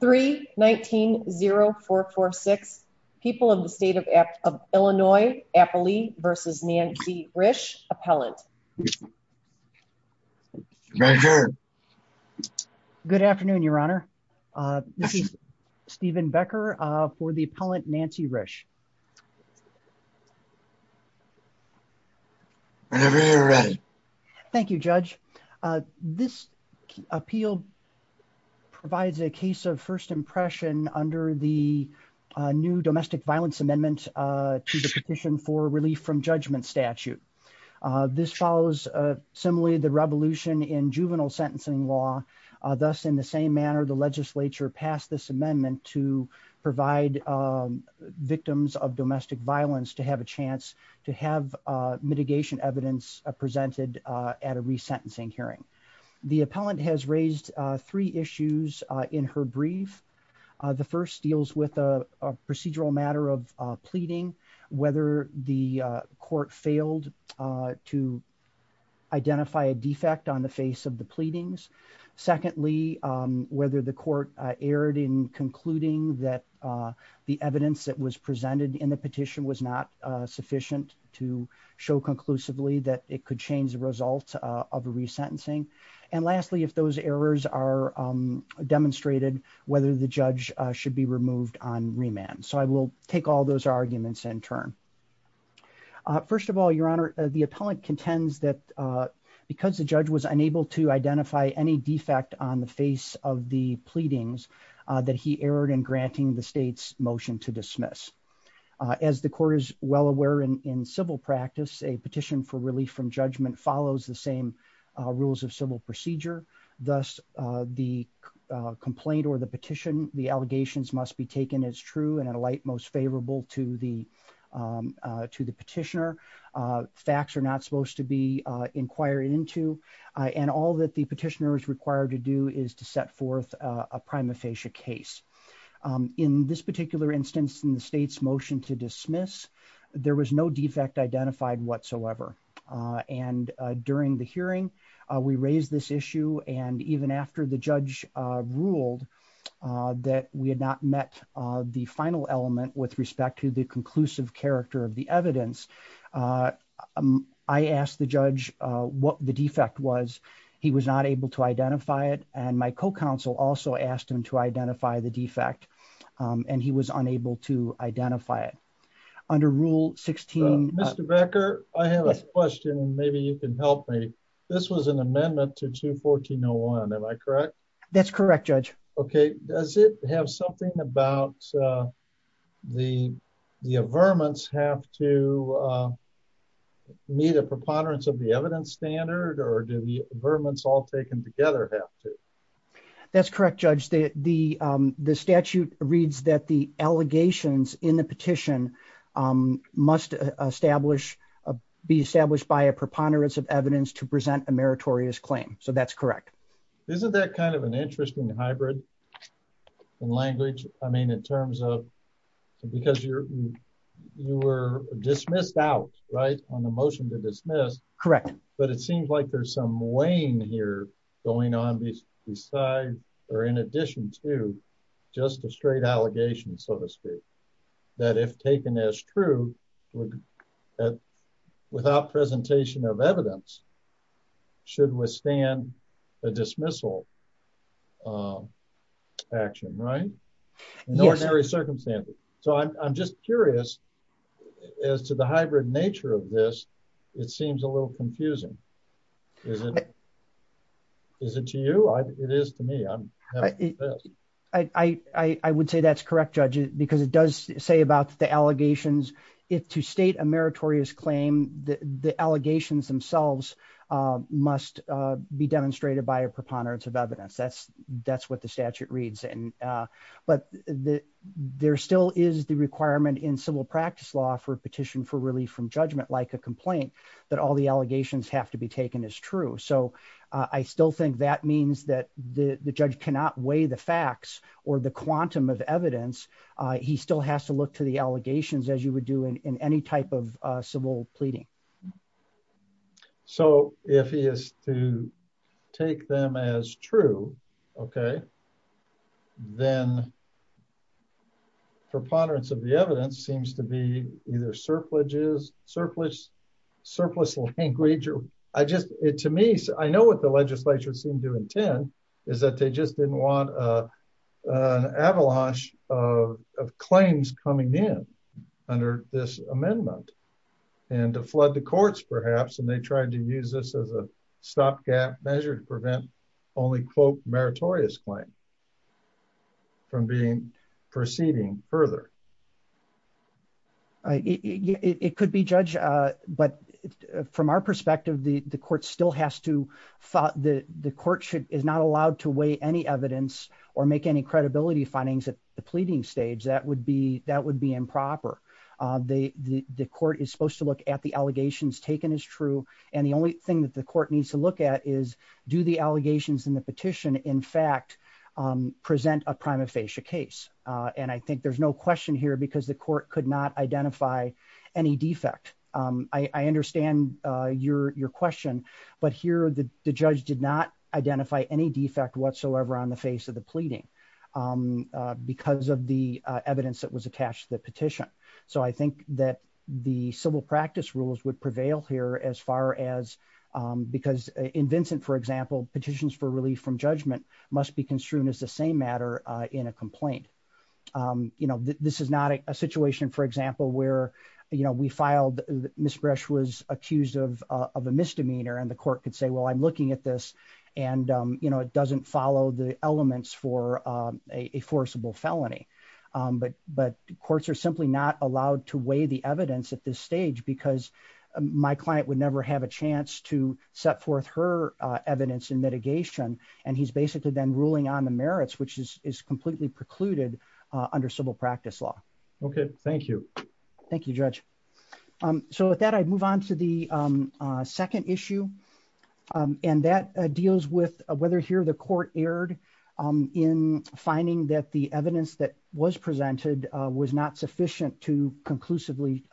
3-19-0446. People of the state of Illinois, Appley v. Nancy Rish. Good afternoon, Your Honor. This is Stephen Becker for the appellant Nancy Rish. Whenever you're ready. Thank you, Judge. This appeal provides a case of first impression under the new domestic violence amendment to the petition for relief from judgment statute. This follows similarly the revolution in juvenile sentencing law. Thus, in the same manner, the legislature passed this amendment to provide victims of domestic violence to have a chance to have mitigation evidence presented at a resentencing hearing. The appellant has raised three issues in her brief. The first deals with a procedural matter of pleading, whether the court erred in concluding that the evidence that was presented in the petition was not sufficient to show conclusively that it could change the results of a resentencing. And lastly, if those errors are demonstrated, whether the judge should be removed on remand. So I will take all those arguments in turn. First of all, Your Honor, the appellant contends that because the judge was unable to identify any defect on the face of the pleadings that he erred in granting the state's motion to dismiss. As the court is well aware in civil practice, a petition for relief from judgment follows the same rules of civil procedure. Thus, the complaint or the petition, the allegations must be taken as true and a light most favorable to the petitioner. Facts are not supposed to be inquired into. And all that the petitioner is required to do is to set forth a prima facie case. In this particular instance, in the state's motion to dismiss, there was no defect identified whatsoever. And during the hearing, we raised this issue. And even after the judge ruled that we had not met the final element with respect to the defendant's case, I asked the judge what the defect was. He was not able to identify it. And my co-counsel also asked him to identify the defect. And he was unable to identify it. Under Rule 16. Mr. Becker, I have a question. Maybe you can help me. This was an amendment to 214-01. Am I correct? That's correct, Judge. Okay. Does it have something about the verments have to meet a preponderance of the evidence standard or do the verments all taken together have to? That's correct, Judge. The statute reads that the allegations in the petition must be established by a preponderance of evidence to present a meritorious claim. So that's correct. Isn't that kind of an interesting hybrid in language? I mean, in terms of because you're you were dismissed out, right, on the motion to dismiss. Correct. But it seems like there's some weighing here going on besides or in addition to just a straight allegation, so to speak, that if taken as true, without presentation of evidence, should withstand a dismissal action, right? In ordinary circumstances. So I'm just curious as to the hybrid nature of this. It seems a little confusing. Is it to you? It is to me. I would say that's correct, Judge, because it does say about the allegations. If to state a meritorious claim, the allegations themselves must be demonstrated by a preponderance of evidence. That's what the statute reads. But there still is the requirement in civil practice law for a petition for relief from judgment, like a complaint, that all the allegations have to be taken as true. So I still think that means that the judge cannot weigh the facts or the quantum of evidence he still has to look to the allegations, as you would do in any type of civil pleading. So if he is to take them as true, okay, then preponderance of the evidence seems to be either surpluses, surplus, surplus language, or I just it to me, I know what the legislature seemed to intend is that they just didn't want an avalanche of claims coming in under this amendment, and to flood the courts, perhaps, and they tried to use this as a stopgap measure to prevent only quote meritorious claim from being proceeding further. It could be, Judge, but from our perspective, the court still has to the courtship is not allowed to weigh any evidence or make any credibility findings at the pleading stage, that would be improper. The court is supposed to look at the allegations taken as true. And the only thing that the court needs to look at is do the allegations in the petition, in fact, present a prima facie case. And I think there's no question here because the court could not identify any defect. I understand your question. But here the judge did not identify any defect whatsoever on the face of the pleading. Because of the evidence that was attached to the petition. So I think that the civil practice rules would prevail here as far as because in Vincent, for example, petitions for relief from judgment must be a situation, for example, where, you know, we filed, Ms. Bresch was accused of a misdemeanor, and the court could say, well, I'm looking at this. And, you know, it doesn't follow the elements for a forcible felony. But courts are simply not allowed to weigh the evidence at this stage, because my client would never have a chance to set forth her evidence in mitigation. And he's basically then ruling on the merits, which is completely precluded under civil practice law. Okay, thank you. Thank you, Judge. So with that, I'd move on to the second issue. And that deals with whether here the court erred in finding that the evidence that was presented was not sufficient to conclusively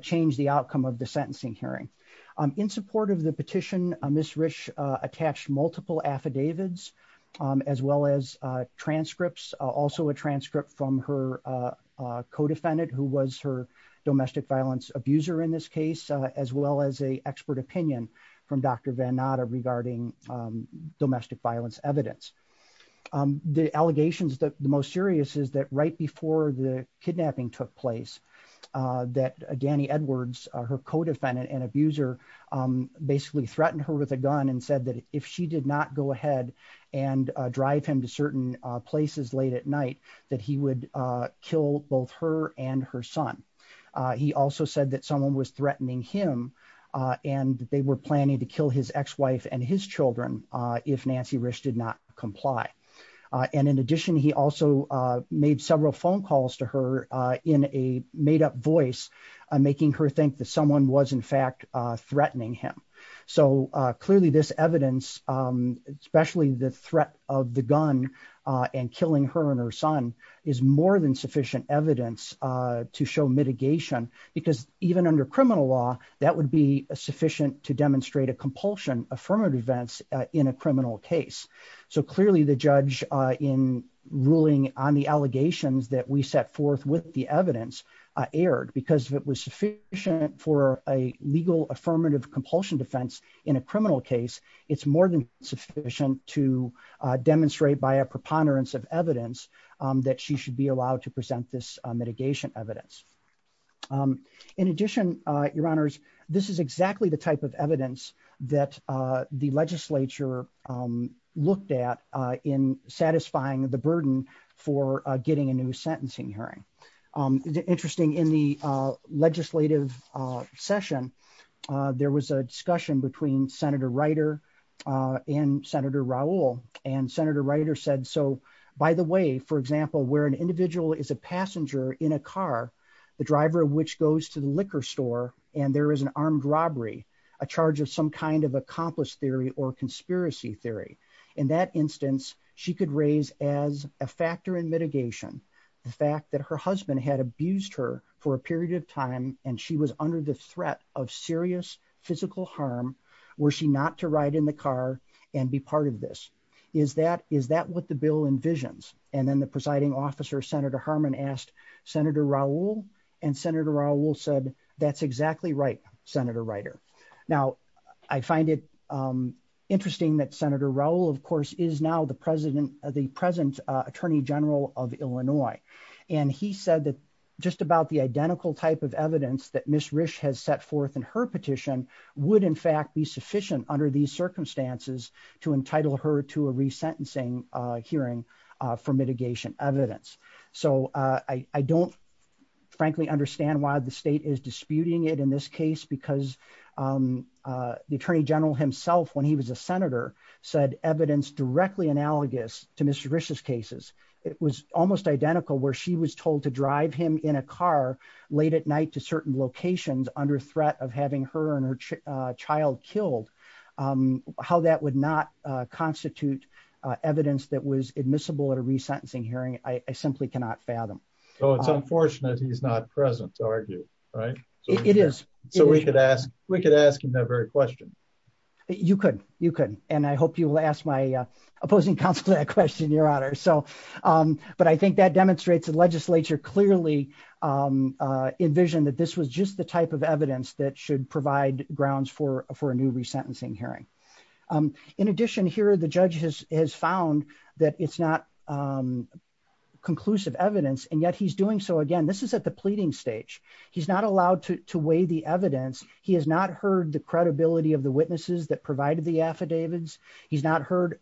change the outcome of the sentencing hearing. In support of the petition, Ms. Bresch attached multiple affidavits, as well as transcripts, also a transcript from her co defendant, who was her domestic violence abuser in this case, as well as a expert opinion from Dr. Vannata regarding domestic violence evidence. The allegations that the most serious is that right before the kidnapping took place, that Danny Edwards, her co defendant and abuser, basically threatened her with a gun and said that if she did not go ahead and drive him to certain places late at night, that he would kill both her and her son. He also said that someone was threatening him. And they were planning to kill his ex wife and his children. If Nancy Risch did not comply. And in addition, he also made several phone calls to her in a made up voice, making her think that someone was in So clearly this evidence, especially the threat of the gun and killing her and her son, is more than sufficient evidence to show mitigation, because even under criminal law, that would be sufficient to demonstrate a compulsion affirmative events in a criminal case. So clearly the judge in ruling on the allegations that we set forth with the evidence, aired because it was sufficient for a legal affirmative compulsion defense in a criminal case, it's more than sufficient to demonstrate by a preponderance of evidence that she should be allowed to present this mitigation evidence. In addition, your honors, this is exactly the type of evidence that the legislature looked at in satisfying the burden for getting a new hearing. Interesting in the legislative session, there was a discussion between Senator Ryder and Senator Raul. And Senator Ryder said, so by the way, for example, where an individual is a passenger in a car, the driver, which goes to the liquor store, and there is an armed robbery, a charge of some kind of accomplished theory or conspiracy theory. In that instance, she could raise as a factor in mitigation, the fact that her husband had abused her for a period of time, and she was under the threat of serious physical harm, were she not to ride in the car and be part of this? Is that what the bill envisions? And then the presiding officer, Senator Harmon asked Senator Raul, and Senator Raul said, that's exactly right, Senator Ryder. Now, I find it interesting that Senator Raul, of course, is now the present Attorney General of Illinois. And he said that just about the identical type of evidence that Ms. Risch has set forth in her petition would in fact be sufficient under these circumstances to entitle her to a resentencing hearing for mitigation evidence. So I don't frankly understand why the because the Attorney General himself, when he was a senator, said evidence directly analogous to Mr. Risch's cases. It was almost identical where she was told to drive him in a car late at night to certain locations under threat of having her and her child killed. How that would not constitute evidence that was admissible at a resentencing hearing, I simply cannot fathom. Oh, it's unfortunate he's not present to argue, right? It is. So we could ask, we could ask him that very question. You could, you could. And I hope you will ask my opposing counsel that question, Your Honor. So, but I think that demonstrates the legislature clearly envisioned that this was just the type of evidence that should provide grounds for a new resentencing hearing. In addition, here, the judge has found that it's not conclusive evidence and yet he's doing so again. This is at the pleading stage. He's not allowed to weigh the evidence. He has not heard the credibility of the witnesses that provided the affidavits. He's not heard,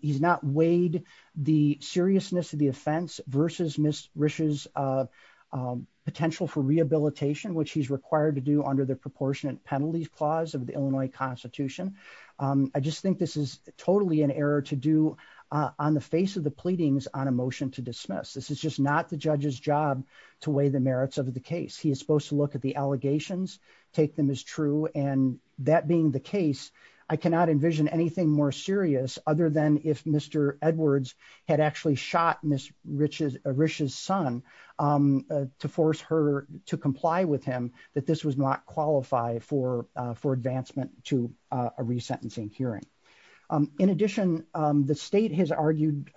he's not weighed the seriousness of the offense versus Ms. Risch's potential for rehabilitation, which he's required to do under the proportionate penalties clause of the Illinois constitution. I just think this is totally an error to do on the face of the pleadings on a motion to dismiss. This is just not the judge's job to weigh the merits of the case. He is supposed to look at the allegations, take them as true. And that being the case, I cannot envision anything more serious other than if Mr. Edwards had actually shot Ms. Risch's son to force her to comply with him, that this was not for advancement to a resentencing hearing. In addition, the state has argued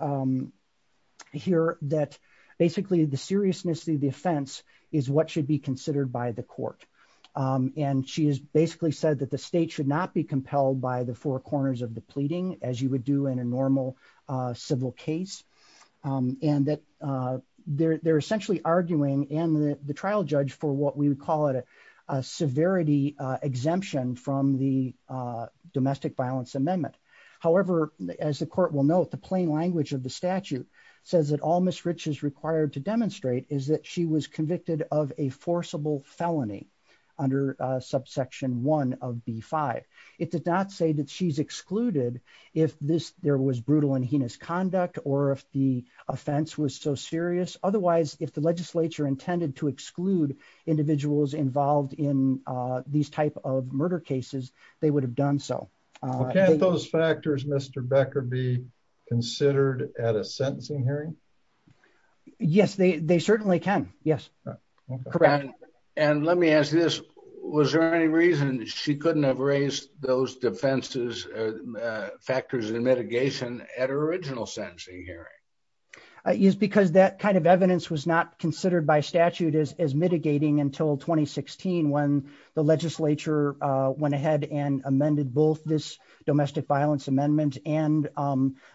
here that basically the seriousness of the offense is what should be considered by the court. And she has basically said that the state should not be compelled by the four corners of the pleading as you would do in a normal civil case. And that they're essentially arguing, and the trial judge for what we would call it a severity exemption from the domestic violence amendment. However, as the court will note, the plain language of the statute says that all Ms. Risch is required to demonstrate is that she was convicted of a forcible felony under subsection one of B5. It did not say that she's excluded if there was brutal and heinous conduct, or if the intended to exclude individuals involved in these type of murder cases, they would have done so. Can't those factors Mr. Becker be considered at a sentencing hearing? Yes, they certainly can. Yes. And let me ask this, was there any reason she couldn't have raised those defenses, factors and mitigation at her original sentencing hearing? Yes, because that kind of evidence was not considered by statute as mitigating until 2016, when the legislature went ahead and amended both this domestic violence amendment and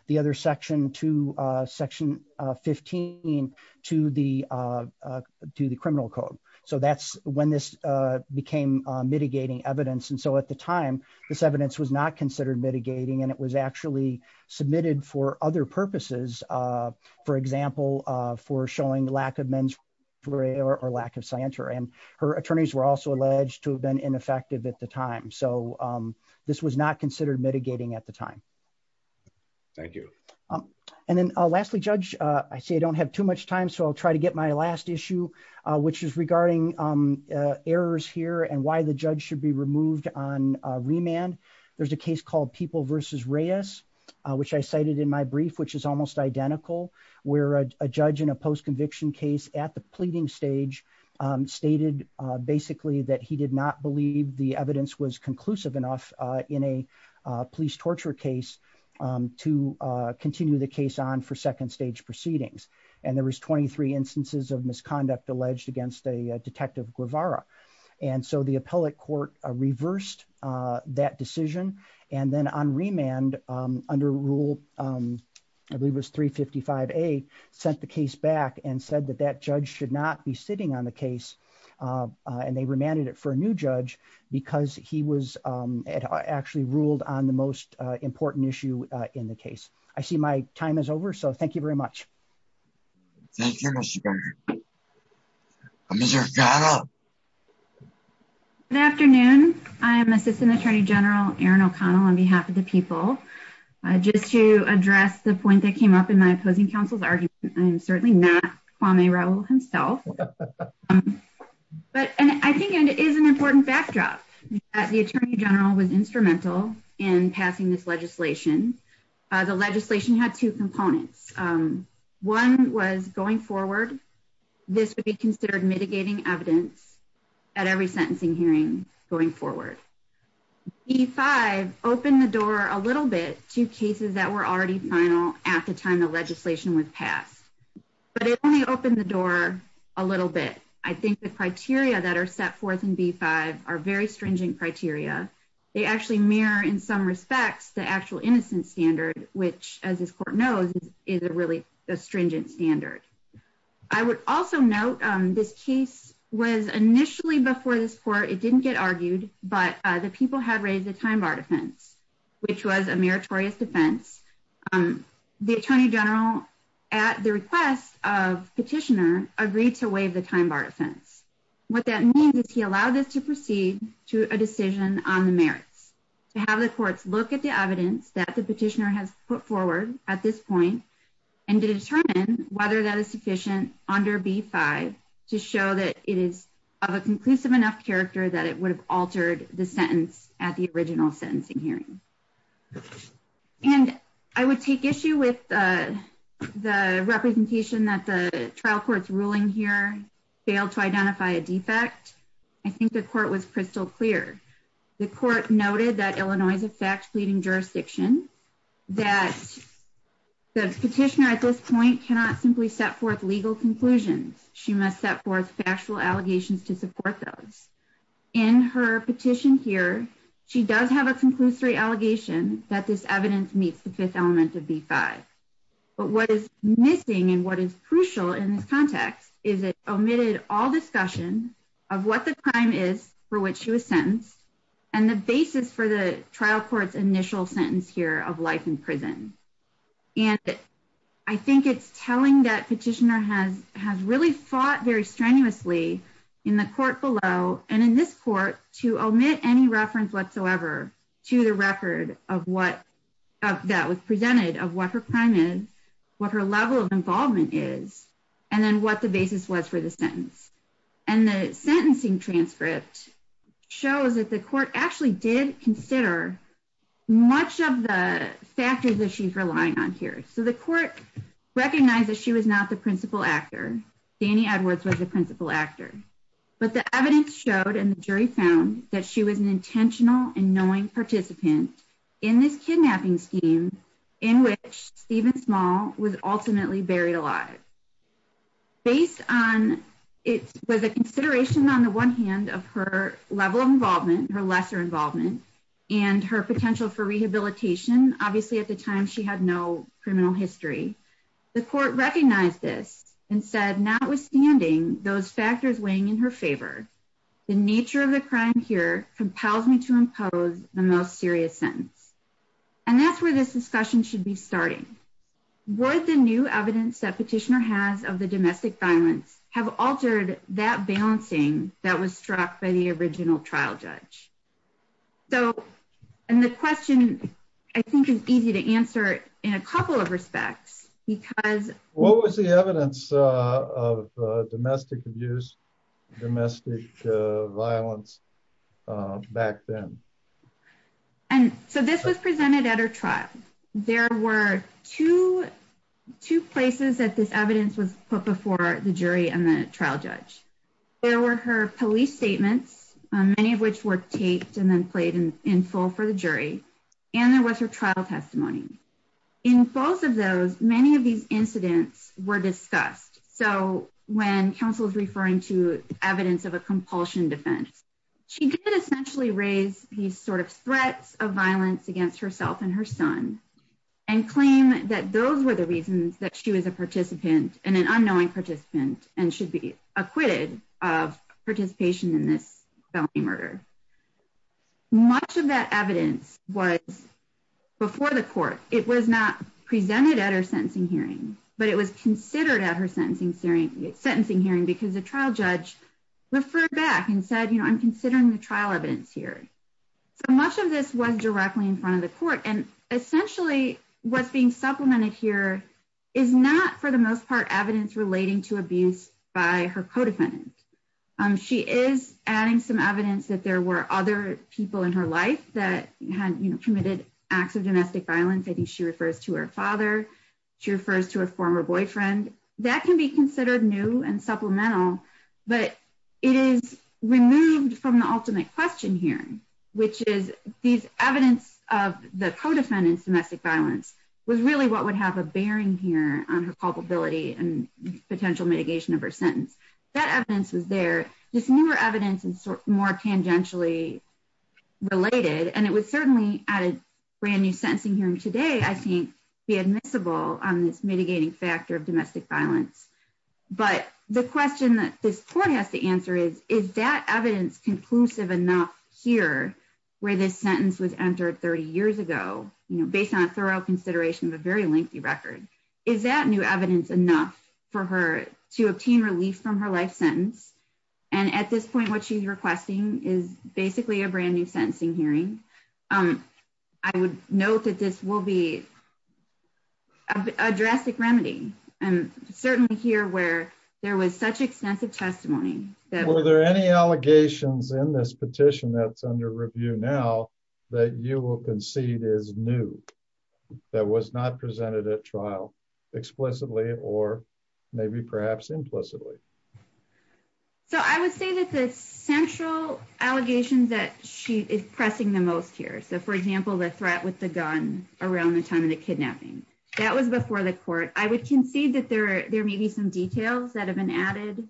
the other section to section 15 to the criminal code. So that's when this became mitigating evidence. And so at the time, this evidence was not considered mitigating and it was actually submitted for other purposes. For example, for showing lack of mens rea or lack of scienter and her attorneys were also alleged to have been ineffective at the time. So this was not considered mitigating at the time. Thank you. And then lastly, Judge, I see I don't have too much time. So I'll try to get my last issue, which is regarding errors here and why the judge should be removed on remand. There's a case called People v. Reyes, which I cited in my brief, which is almost identical, where a judge in a post conviction case at the pleading stage stated basically that he did not believe the evidence was conclusive enough in a police torture case to continue the case on for second stage proceedings. And there was 23 instances of misconduct alleged against a detective Guevara. And so the appellate court reversed that decision. And then on remand under rule, I believe it was 355A, sent the case back and said that that judge should not be sitting on the case. And they remanded it for a new judge because he was actually ruled on the most important issue in the case. I see my time is over. So thank you very much. Thank you, Mr. Governor. Ms. O'Connell. Good afternoon. I am Assistant Attorney General Erin O'Connell on behalf of the people. Just to address the point that came up in my opposing council's argument, I am certainly not Kwame Rowell himself. But I think it is an important backdrop that the Attorney General was instrumental in passing this legislation. The legislation had two components. One was going forward. This would be considered mitigating evidence at every sentencing hearing going forward. B-5 opened the door a little bit to cases that were already final at the time the legislation was passed. But it only opened the door a little bit. I think the criteria that are set forth in B-5 are very stringent criteria. They actually mirror in some respects the actual innocence standard, which, as this court knows, is a really stringent standard. I would also note this case was initially before this court. It didn't get argued. But the people had raised the time bar defense, which was a meritorious defense. The Attorney General, at the request of Petitioner, agreed to waive the time bar defense. What that means is he allowed us to proceed to a decision on the merits. To have the courts look at the evidence that the Petitioner has put forward at this point and to determine whether that is sufficient under B-5 to show that it is of a conclusive enough character that it would have altered the sentence at the original sentencing hearing. And I would take issue with the representation that the trial court's ruling here failed to identify a defect. I think the court was crystal clear. The court noted that Illinois is a fact-leading jurisdiction, that the Petitioner at this point cannot simply set forth legal conclusions. She must set forth factual allegations to support those. In her petition here, she does have a conclusory allegation that this evidence meets the fifth element of B-5. But what is missing and what is crucial in this context is it omitted all discussion of what the crime is for which she was sentenced and the basis for the trial court's initial sentence here of life in prison. And I think it's telling that Petitioner has really fought very strenuously in the court below and in this court to omit any reference whatsoever to the record of what that was what her level of involvement is and then what the basis was for the sentence. And the sentencing transcript shows that the court actually did consider much of the factors that she's relying on here. So the court recognized that she was not the principal actor. Dani Edwards was the principal actor. But the evidence showed and the jury found that she was an intentional and knowing participant in this kidnapping scheme in which Stephen Small was ultimately buried alive. Based on it was a consideration on the one hand of her level of involvement, her lesser involvement, and her potential for rehabilitation. Obviously at the time she had no criminal history. The court recognized this and said notwithstanding those factors weighing in favor, the nature of the crime here compels me to impose the most serious sentence. And that's where this discussion should be starting. Would the new evidence that Petitioner has of the domestic violence have altered that balancing that was struck by the original trial judge? So and the question I think is easy to answer in a couple of respects because- I'm not sure I can answer that. I'm not sure I can answer the question of domestic violence back then. And so this was presented at her trial. There were two places that this evidence was put before the jury and the trial judge. There were her police statements, many of which were taped and then played in full for the jury. And there was her trial testimony. In both of those, many of incidents were discussed. So when counsel is referring to evidence of a compulsion defense, she did essentially raise these sort of threats of violence against herself and her son and claim that those were the reasons that she was a participant and an unknowing participant and should be acquitted of participation in this felony murder. Much of that evidence was before the court. It was not presented at her sentencing hearing, but it was considered at her sentencing hearing because the trial judge referred back and said, you know, I'm considering the trial evidence here. So much of this was directly in front of the court. And essentially what's being supplemented here is not, for the most part, evidence relating to abuse by her co-defendant. She is adding some evidence that there were other people in her life that committed acts of domestic violence. I think she refers to her father. She refers to her former boyfriend. That can be considered new and supplemental, but it is removed from the ultimate question here, which is these evidence of the co-defendant's domestic violence was really what would have a bearing here on her culpability and potential mitigation of her sentence. That at a brand new sentencing hearing today, I think be admissible on this mitigating factor of domestic violence. But the question that this court has to answer is, is that evidence conclusive enough here where this sentence was entered 30 years ago, you know, based on a thorough consideration of a very lengthy record, is that new evidence enough for her to obtain relief from her life sentence? And at this point, what she's requesting is basically a brand new sentencing hearing. I would note that this will be a drastic remedy and certainly here where there was such extensive testimony. Were there any allegations in this petition that's under review now that you will concede is new, that was not presented at trial explicitly or maybe perhaps implicitly? So I would say that the central allegations that she is pressing the most here. So for example, the threat with the gun around the time of the kidnapping, that was before the court. I would concede that there may be some details that have been added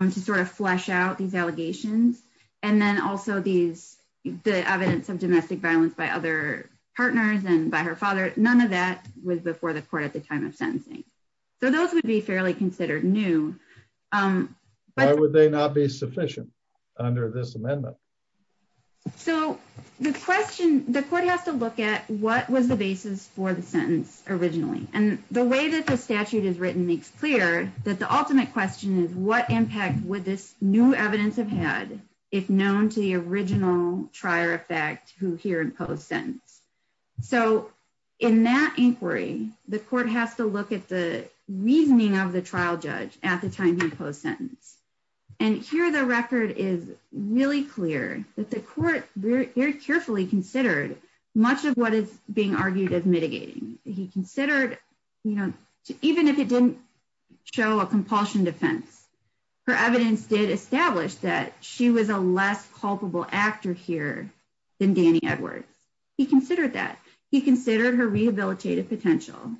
to sort of flesh out these allegations. And then also these, the evidence of domestic violence by other partners and by her father, none of that was before the court at the time of sentencing. So those would be fairly considered new. Why would they not be sufficient under this amendment? So the question, the court has to look at what was the basis for the sentence originally and the way that the statute is written makes clear that the ultimate question is what impact would this new evidence have had if known to the original trier effect who here imposed sentence. So in that inquiry, the court has to look at the at the time he imposed sentence. And here the record is really clear that the court very carefully considered much of what is being argued as mitigating. He considered, you know, even if it didn't show a compulsion defense, her evidence did establish that she was a less culpable actor here than Danny Edwards. He considered that. He considered her rehabilitative potential.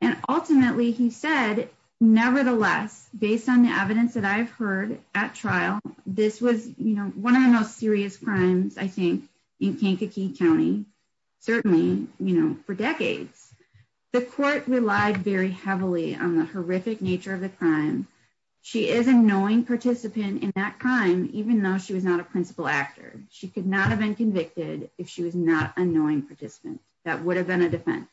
And ultimately he said, nevertheless, based on the evidence that I've heard at trial, this was, you know, one of the most serious crimes I think in Kankakee County, certainly, you know, for decades, the court relied very heavily on the horrific nature of the crime. She is a knowing participant in that crime, even though she was not a principal actor, she could not have been convicted if she was not a knowing participant, that would have been a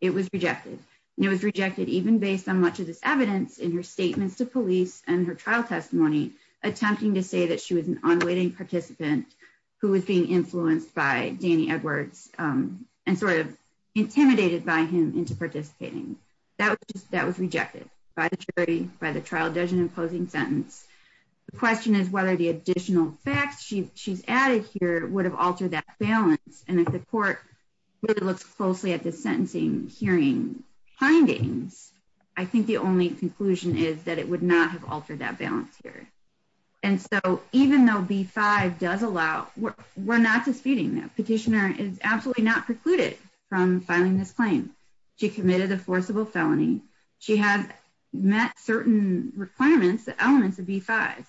it was rejected. And it was rejected even based on much of this evidence in her statements to police and her trial testimony, attempting to say that she was an unwitting participant who was being influenced by Danny Edwards and sort of intimidated by him into participating. That was rejected by the jury, by the trial judging and imposing sentence. The question is whether the additional facts she's added here would have altered that balance. And if the court really looks closely at the sentencing hearing findings, I think the only conclusion is that it would not have altered that balance here. And so even though B-5 does allow, we're not disputing that petitioner is absolutely not precluded from filing this claim. She committed a forcible felony. She has met certain requirements, the elements of B-5,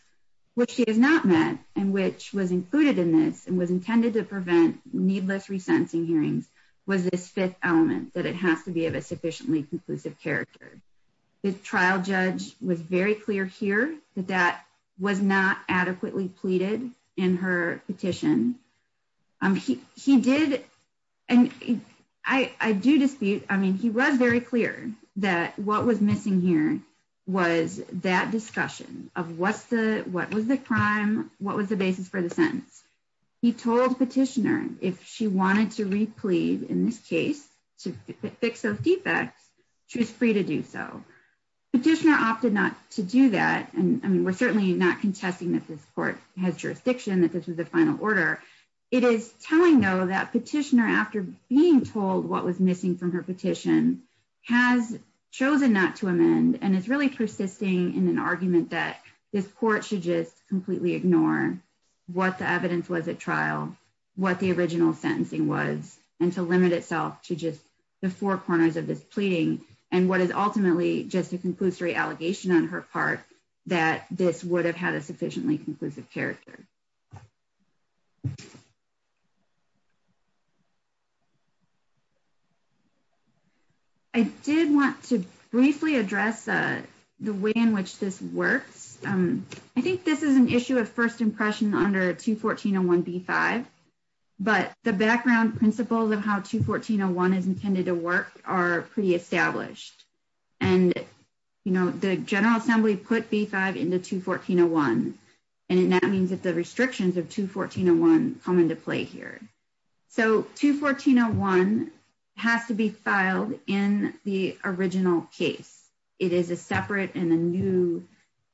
which she has not met and which was included in this and was intended to prevent needless resentencing hearings was this fifth element that it has to be of a sufficiently conclusive character. The trial judge was very clear here that that was not adequately pleaded in her petition. He did, and I do dispute, I mean, he was very clear that what was missing here was that discussion of what was the crime, what was the basis for the sentence. He told petitioner if she wanted to replead in this case to fix those defects, she was free to do so. Petitioner opted not to do that. And I mean, we're certainly not contesting that this court has jurisdiction that this was the final order. It is telling though that petitioner after being told what was missing from her this court should just completely ignore what the evidence was at trial, what the original sentencing was, and to limit itself to just the four corners of this pleading and what is ultimately just a conclusory allegation on her part that this would have had a sufficiently conclusive character. I did want to briefly address the way in which this works. I think this is an issue of first impression under 214.01b5, but the background principles of how 214.01 is intended to work are pretty established. And, you know, the General Assembly put 214.01b5 into 214.01b5, restrictions of 214.01 come into play here. So 214.01 has to be filed in the original case. It is a separate and a new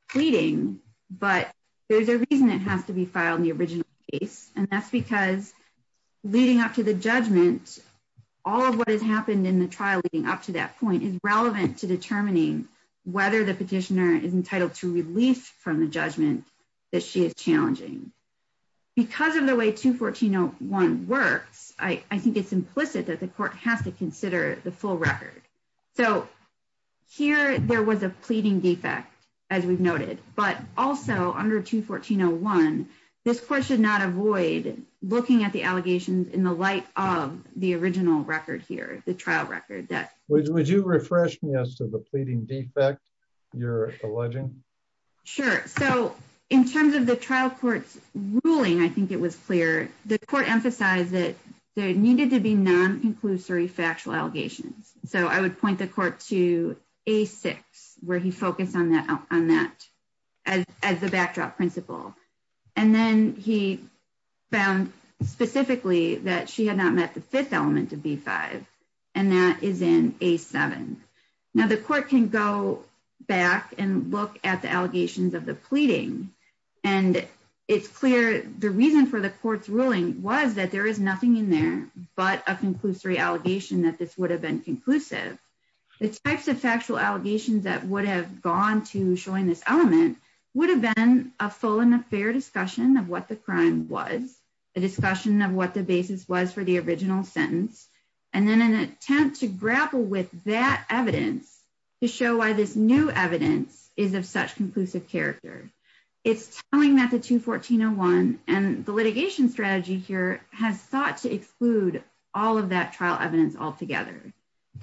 pleading, but there's a reason it has to be filed in the original case, and that's because leading up to the judgment, all of what has happened in the trial leading up to that point is relevant to determining whether the petitioner is entitled to relief from the judgment that she is challenging. Because of the way 214.01 works, I think it's implicit that the court has to consider the full record. So here there was a pleading defect, as we've noted, but also under 214.01, this court should not avoid looking at the allegations in the light of the original record here, the trial record. Would you refresh me as to the pleading defect you're alleging? Sure. So in terms of the trial court's ruling, I think it was clear, the court emphasized that there needed to be non-conclusory factual allegations. So I would point the court to A6, where he focused on that as the backdrop principle. And then he found specifically that she had not met the fifth element of B5, and that is in A7. Now the court can go back and look at the allegations of the pleading, and it's clear the reason for the court's ruling was that there is nothing in there but a conclusory allegation that this would have been conclusive. The types of factual allegations that would have gone to showing this element would have been a full and a fair discussion of what the crime was, a discussion of what the basis was for the original sentence, and then an attempt to grapple with that evidence to show why this new evidence is of such conclusive character. It's telling that the 214.01 and the litigation strategy here has thought to exclude all of that trial evidence altogether.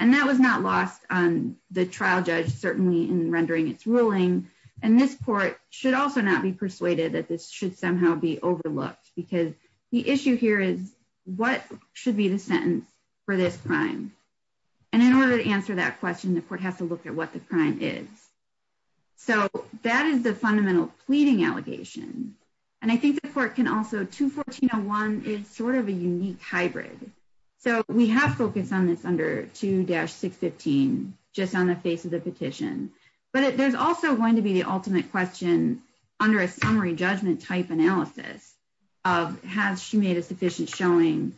And that was not lost on the trial judge certainly in rendering its ruling, and this court should also not be persuaded that this should somehow be overlooked because the issue here is what should be the sentence for this crime? And in order to answer that question, the court has to look at what the crime is. So that is the fundamental pleading allegation, and I think the court can also, 214.01 is sort of a unique hybrid. So we have focused on this under 2-615 just on the face of the petition, but there's also going to be the ultimate question under a summary judgment type analysis of has she made a sufficient showing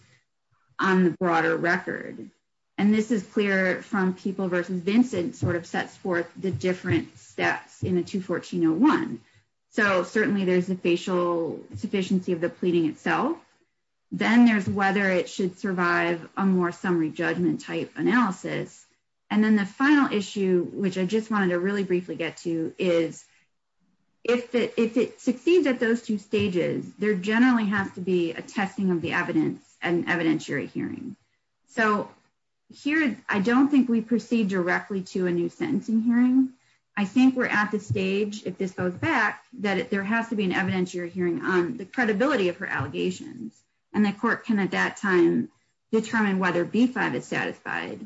on the broader record? And this is clear from People v. Vincent sort of sets forth the different steps in the 214.01. So certainly there's a facial sufficiency of the pleading itself, then there's whether it should survive a more summary judgment type analysis, and then the is if it succeeds at those two stages, there generally has to be a testing of the evidence and evidentiary hearing. So here, I don't think we proceed directly to a new sentencing hearing. I think we're at the stage, if this goes back, that there has to be an evidentiary hearing on the credibility of her allegations, and the court can at that time determine whether B-5 is satisfied.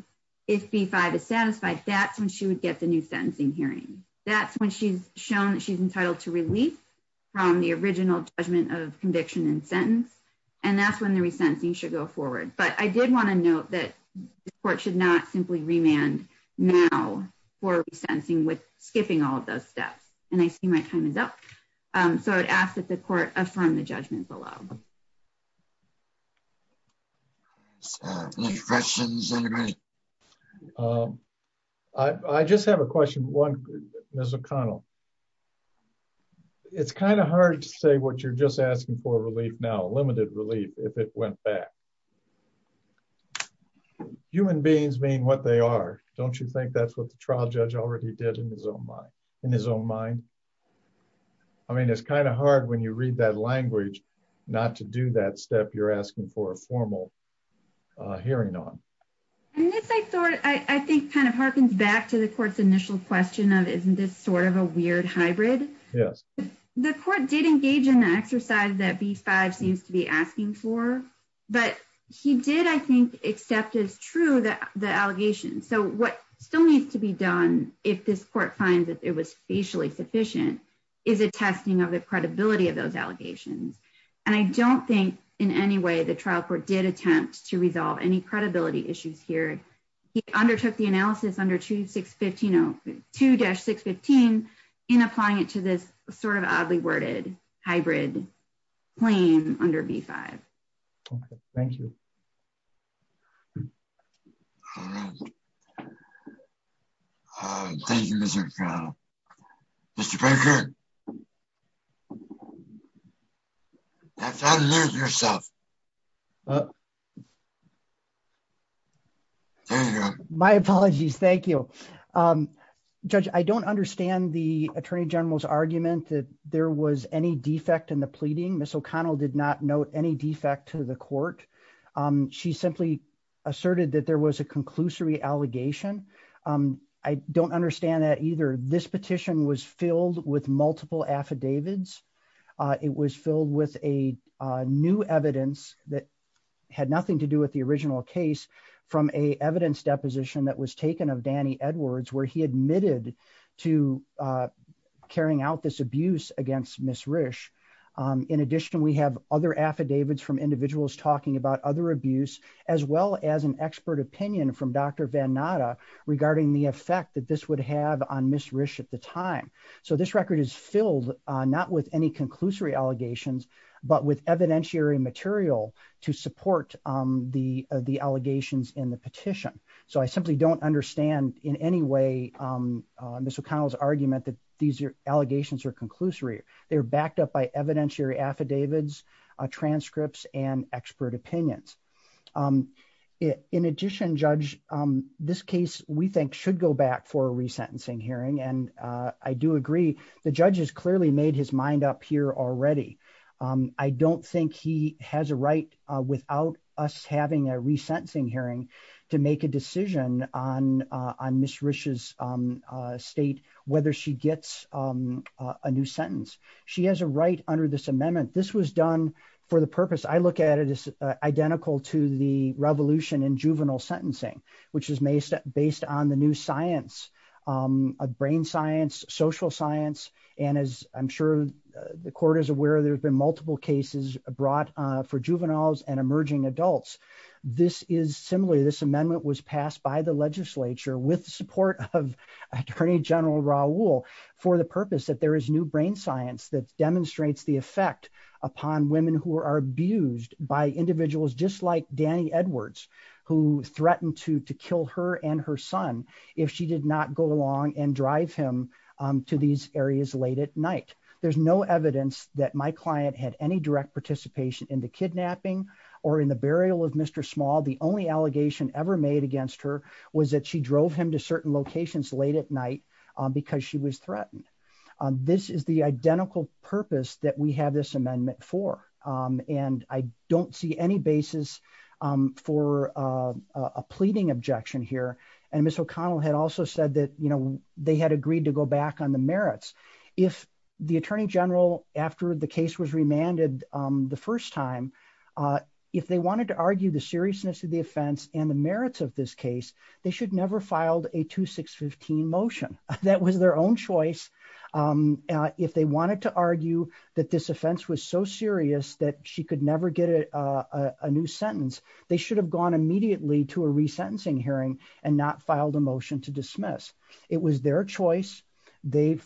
If B-5 is satisfied, that's when she would get the new sentencing hearing. That's when she's shown that she's entitled to relief from the original judgment of conviction and sentence, and that's when the resentencing should go forward. But I did want to note that the court should not simply remand now for resentencing with skipping all of those steps. And I see my time is up. So I'd ask that the court affirm the judgments below. Any questions? I just have a question. One, Ms. O'Connell, it's kind of hard to say what you're just asking for relief now, limited relief, if it went back. Human beings being what they are, don't you think that's what the trial judge already did in his own mind? I mean, it's kind of hard when you read that language, not to do that step you're asking for a formal hearing on. And this, I thought, I think kind of harkens back to the court's initial question of, isn't this sort of a weird hybrid? Yes. The court did engage in the exercise that B-5 seems to be asking for, but he did, I think, accept as true the allegation. So what still needs to be done if this court finds that it was facially sufficient, is a testing of the credibility of those allegations. And I don't think in any way the trial court did attempt to resolve any credibility issues here. He undertook the analysis under 2-615 in applying it to this sort of oddly worded hybrid claim under B-5. Okay. Thank you. All right. Thank you, Mr. O'Connell. Mr. Baker. That's how you lose yourself. There you go. My apologies. Thank you. Judge, I don't understand the Attorney General's argument that there was any defect in the asserted that there was a conclusory allegation. I don't understand that either. This petition was filled with multiple affidavits. It was filled with a new evidence that had nothing to do with the original case from a evidence deposition that was taken of Danny Edwards, where he admitted to carrying out this abuse against Ms. Risch. In addition, we have other affidavits from as an expert opinion from Dr. Vannata regarding the effect that this would have on Ms. Risch at the time. So this record is filled not with any conclusory allegations, but with evidentiary material to support the allegations in the petition. So I simply don't understand in any way Ms. O'Connell's argument that these allegations are conclusory. They're backed up by evidentiary affidavits, transcripts, and expert opinions. In addition, Judge, this case we think should go back for a resentencing hearing, and I do agree the judge has clearly made his mind up here already. I don't think he has a right without us having a resentencing hearing to make a decision on Ms. Risch's state, whether she gets a new sentence. She has a right under this amendment. This was done for the purpose, I look at it as identical to the revolution in juvenile sentencing, which is based on the new science of brain science, social science, and as I'm sure the court is aware, there have been multiple cases brought for juveniles and emerging adults. This is similarly, this amendment was passed by the legislature with support of Attorney General Raul for the purpose that there is new brain science that demonstrates the effect upon women who are abused by individuals just like Dani Edwards, who threatened to kill her and her son if she did not go along and drive him to these areas late at night. There's no evidence that client had any direct participation in the kidnapping or in the burial of Mr. Small. The only allegation ever made against her was that she drove him to certain locations late at night because she was threatened. This is the identical purpose that we have this amendment for, and I don't see any basis for a pleading objection here, and Ms. O'Connell had also said that they had agreed to go back on the merits. If the Attorney General, after the case was remanded the first time, if they wanted to argue the seriousness of the offense and the merits of this case, they should never filed a 2615 motion. That was their own choice. If they wanted to argue that this offense was so serious that she could never get a new sentence, they should have gone to a resentencing hearing and not filed a motion to dismiss. It was their choice. They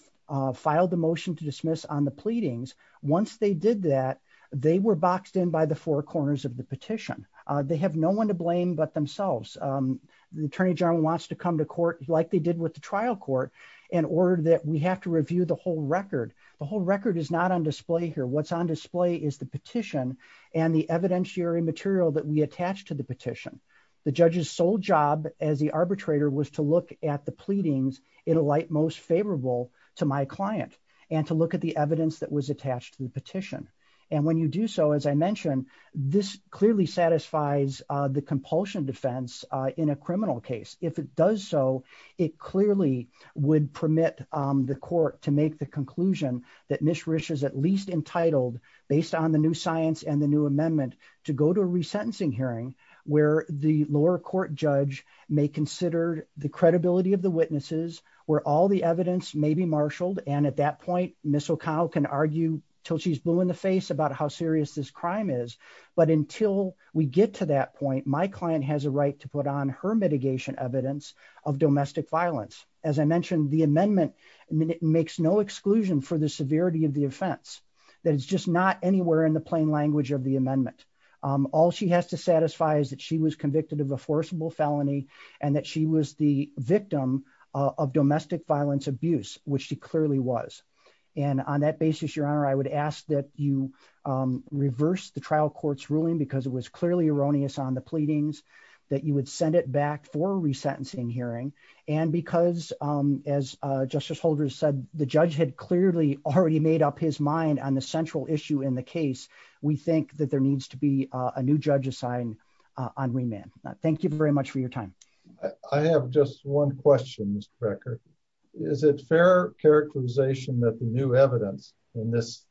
filed the motion to dismiss on the pleadings. Once they did that, they were boxed in by the four corners of the petition. They have no one to blame but themselves. The Attorney General wants to come to court like they did with the trial court in order that we have to review the whole record. The whole record is not on display here. What's on display is the petition and the evidentiary material that we attached to the petition. The judge's sole job as the arbitrator was to look at the pleadings in a light most favorable to my client and to look at the evidence that was attached to the petition. When you do so, as I mentioned, this clearly satisfies the compulsion defense in a criminal case. If it does so, it clearly would permit the court to make the conclusion that Ms. Rich is at least entitled, based on the new science and the new amendment, to go to a resentencing hearing where the lower court judge may consider the credibility of the witnesses, where all the evidence may be marshaled. At that point, Ms. O'Connell can argue until she's blue in the face about how serious this crime is. Until we get to that point, my client has a right to put on her mitigation evidence of domestic violence. As I mentioned, the amendment makes no exclusion for the severity of the offense. It's just not anywhere in the language of the amendment. All she has to satisfy is that she was convicted of a forcible felony and that she was the victim of domestic violence abuse, which she clearly was. On that basis, Your Honor, I would ask that you reverse the trial court's ruling because it was clearly erroneous on the pleadings, that you would send it back for a resentencing hearing, and because, as Justice Holder said, the judge had clearly already made up his mind on the central issue in the case, we think that there needs to be a new judge assigned on remand. Thank you very much for your time. I have just one question, Mr. Becker. Is it fair characterization that the new evidence in this,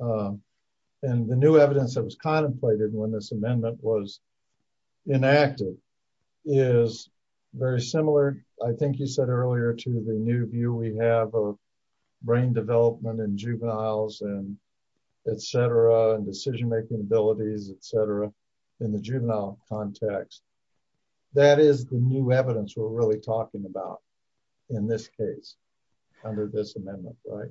and the new evidence that was contemplated when this amendment was enacted, is very similar, I think you said earlier, to the new view we have of development in juveniles, and etc., and decision-making abilities, etc., in the juvenile context. That is the new evidence we're really talking about in this case, under this amendment, right?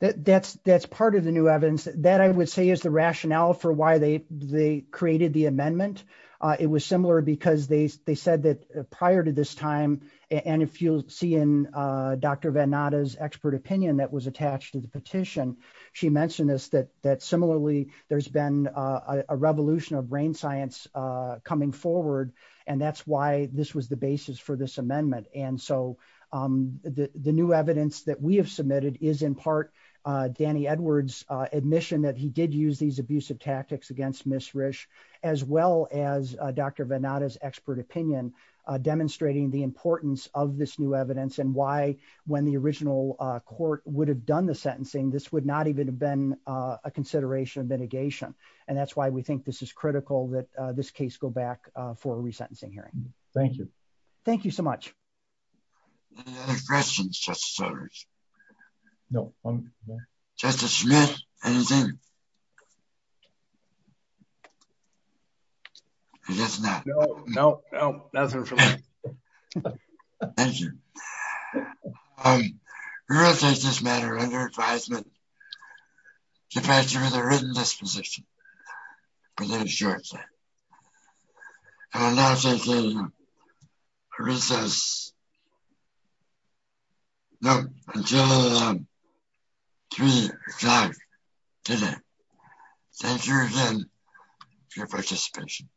That's part of the new evidence. That, I would say, is the rationale for why they created the amendment. It was similar because they said that prior to this time, and if you'll see in Dr. Venata's expert opinion that was attached to the petition, she mentioned this, that similarly, there's been a revolution of brain science coming forward, and that's why this was the basis for this amendment. And so, the new evidence that we have submitted is, in part, Danny Edwards' admission that he did use these abusive tactics against Ms. Risch, as well as Dr. Venata's expert opinion, demonstrating the importance of this new evidence, and why, when the original court would have done the sentencing, this would not even have been a consideration of mitigation. And that's why we think this is critical, that this case go back for a resentencing hearing. Thank you. Thank you so much. Any other questions, Justice Edwards? No. Justice Smith, anything? I guess not. No, no, no, nothing for me. Thank you. We will take this matter under advisement to pass it with a written disposition within a short time. I will now take a recess. No, until 3 o'clock today. Thank you again for your participation.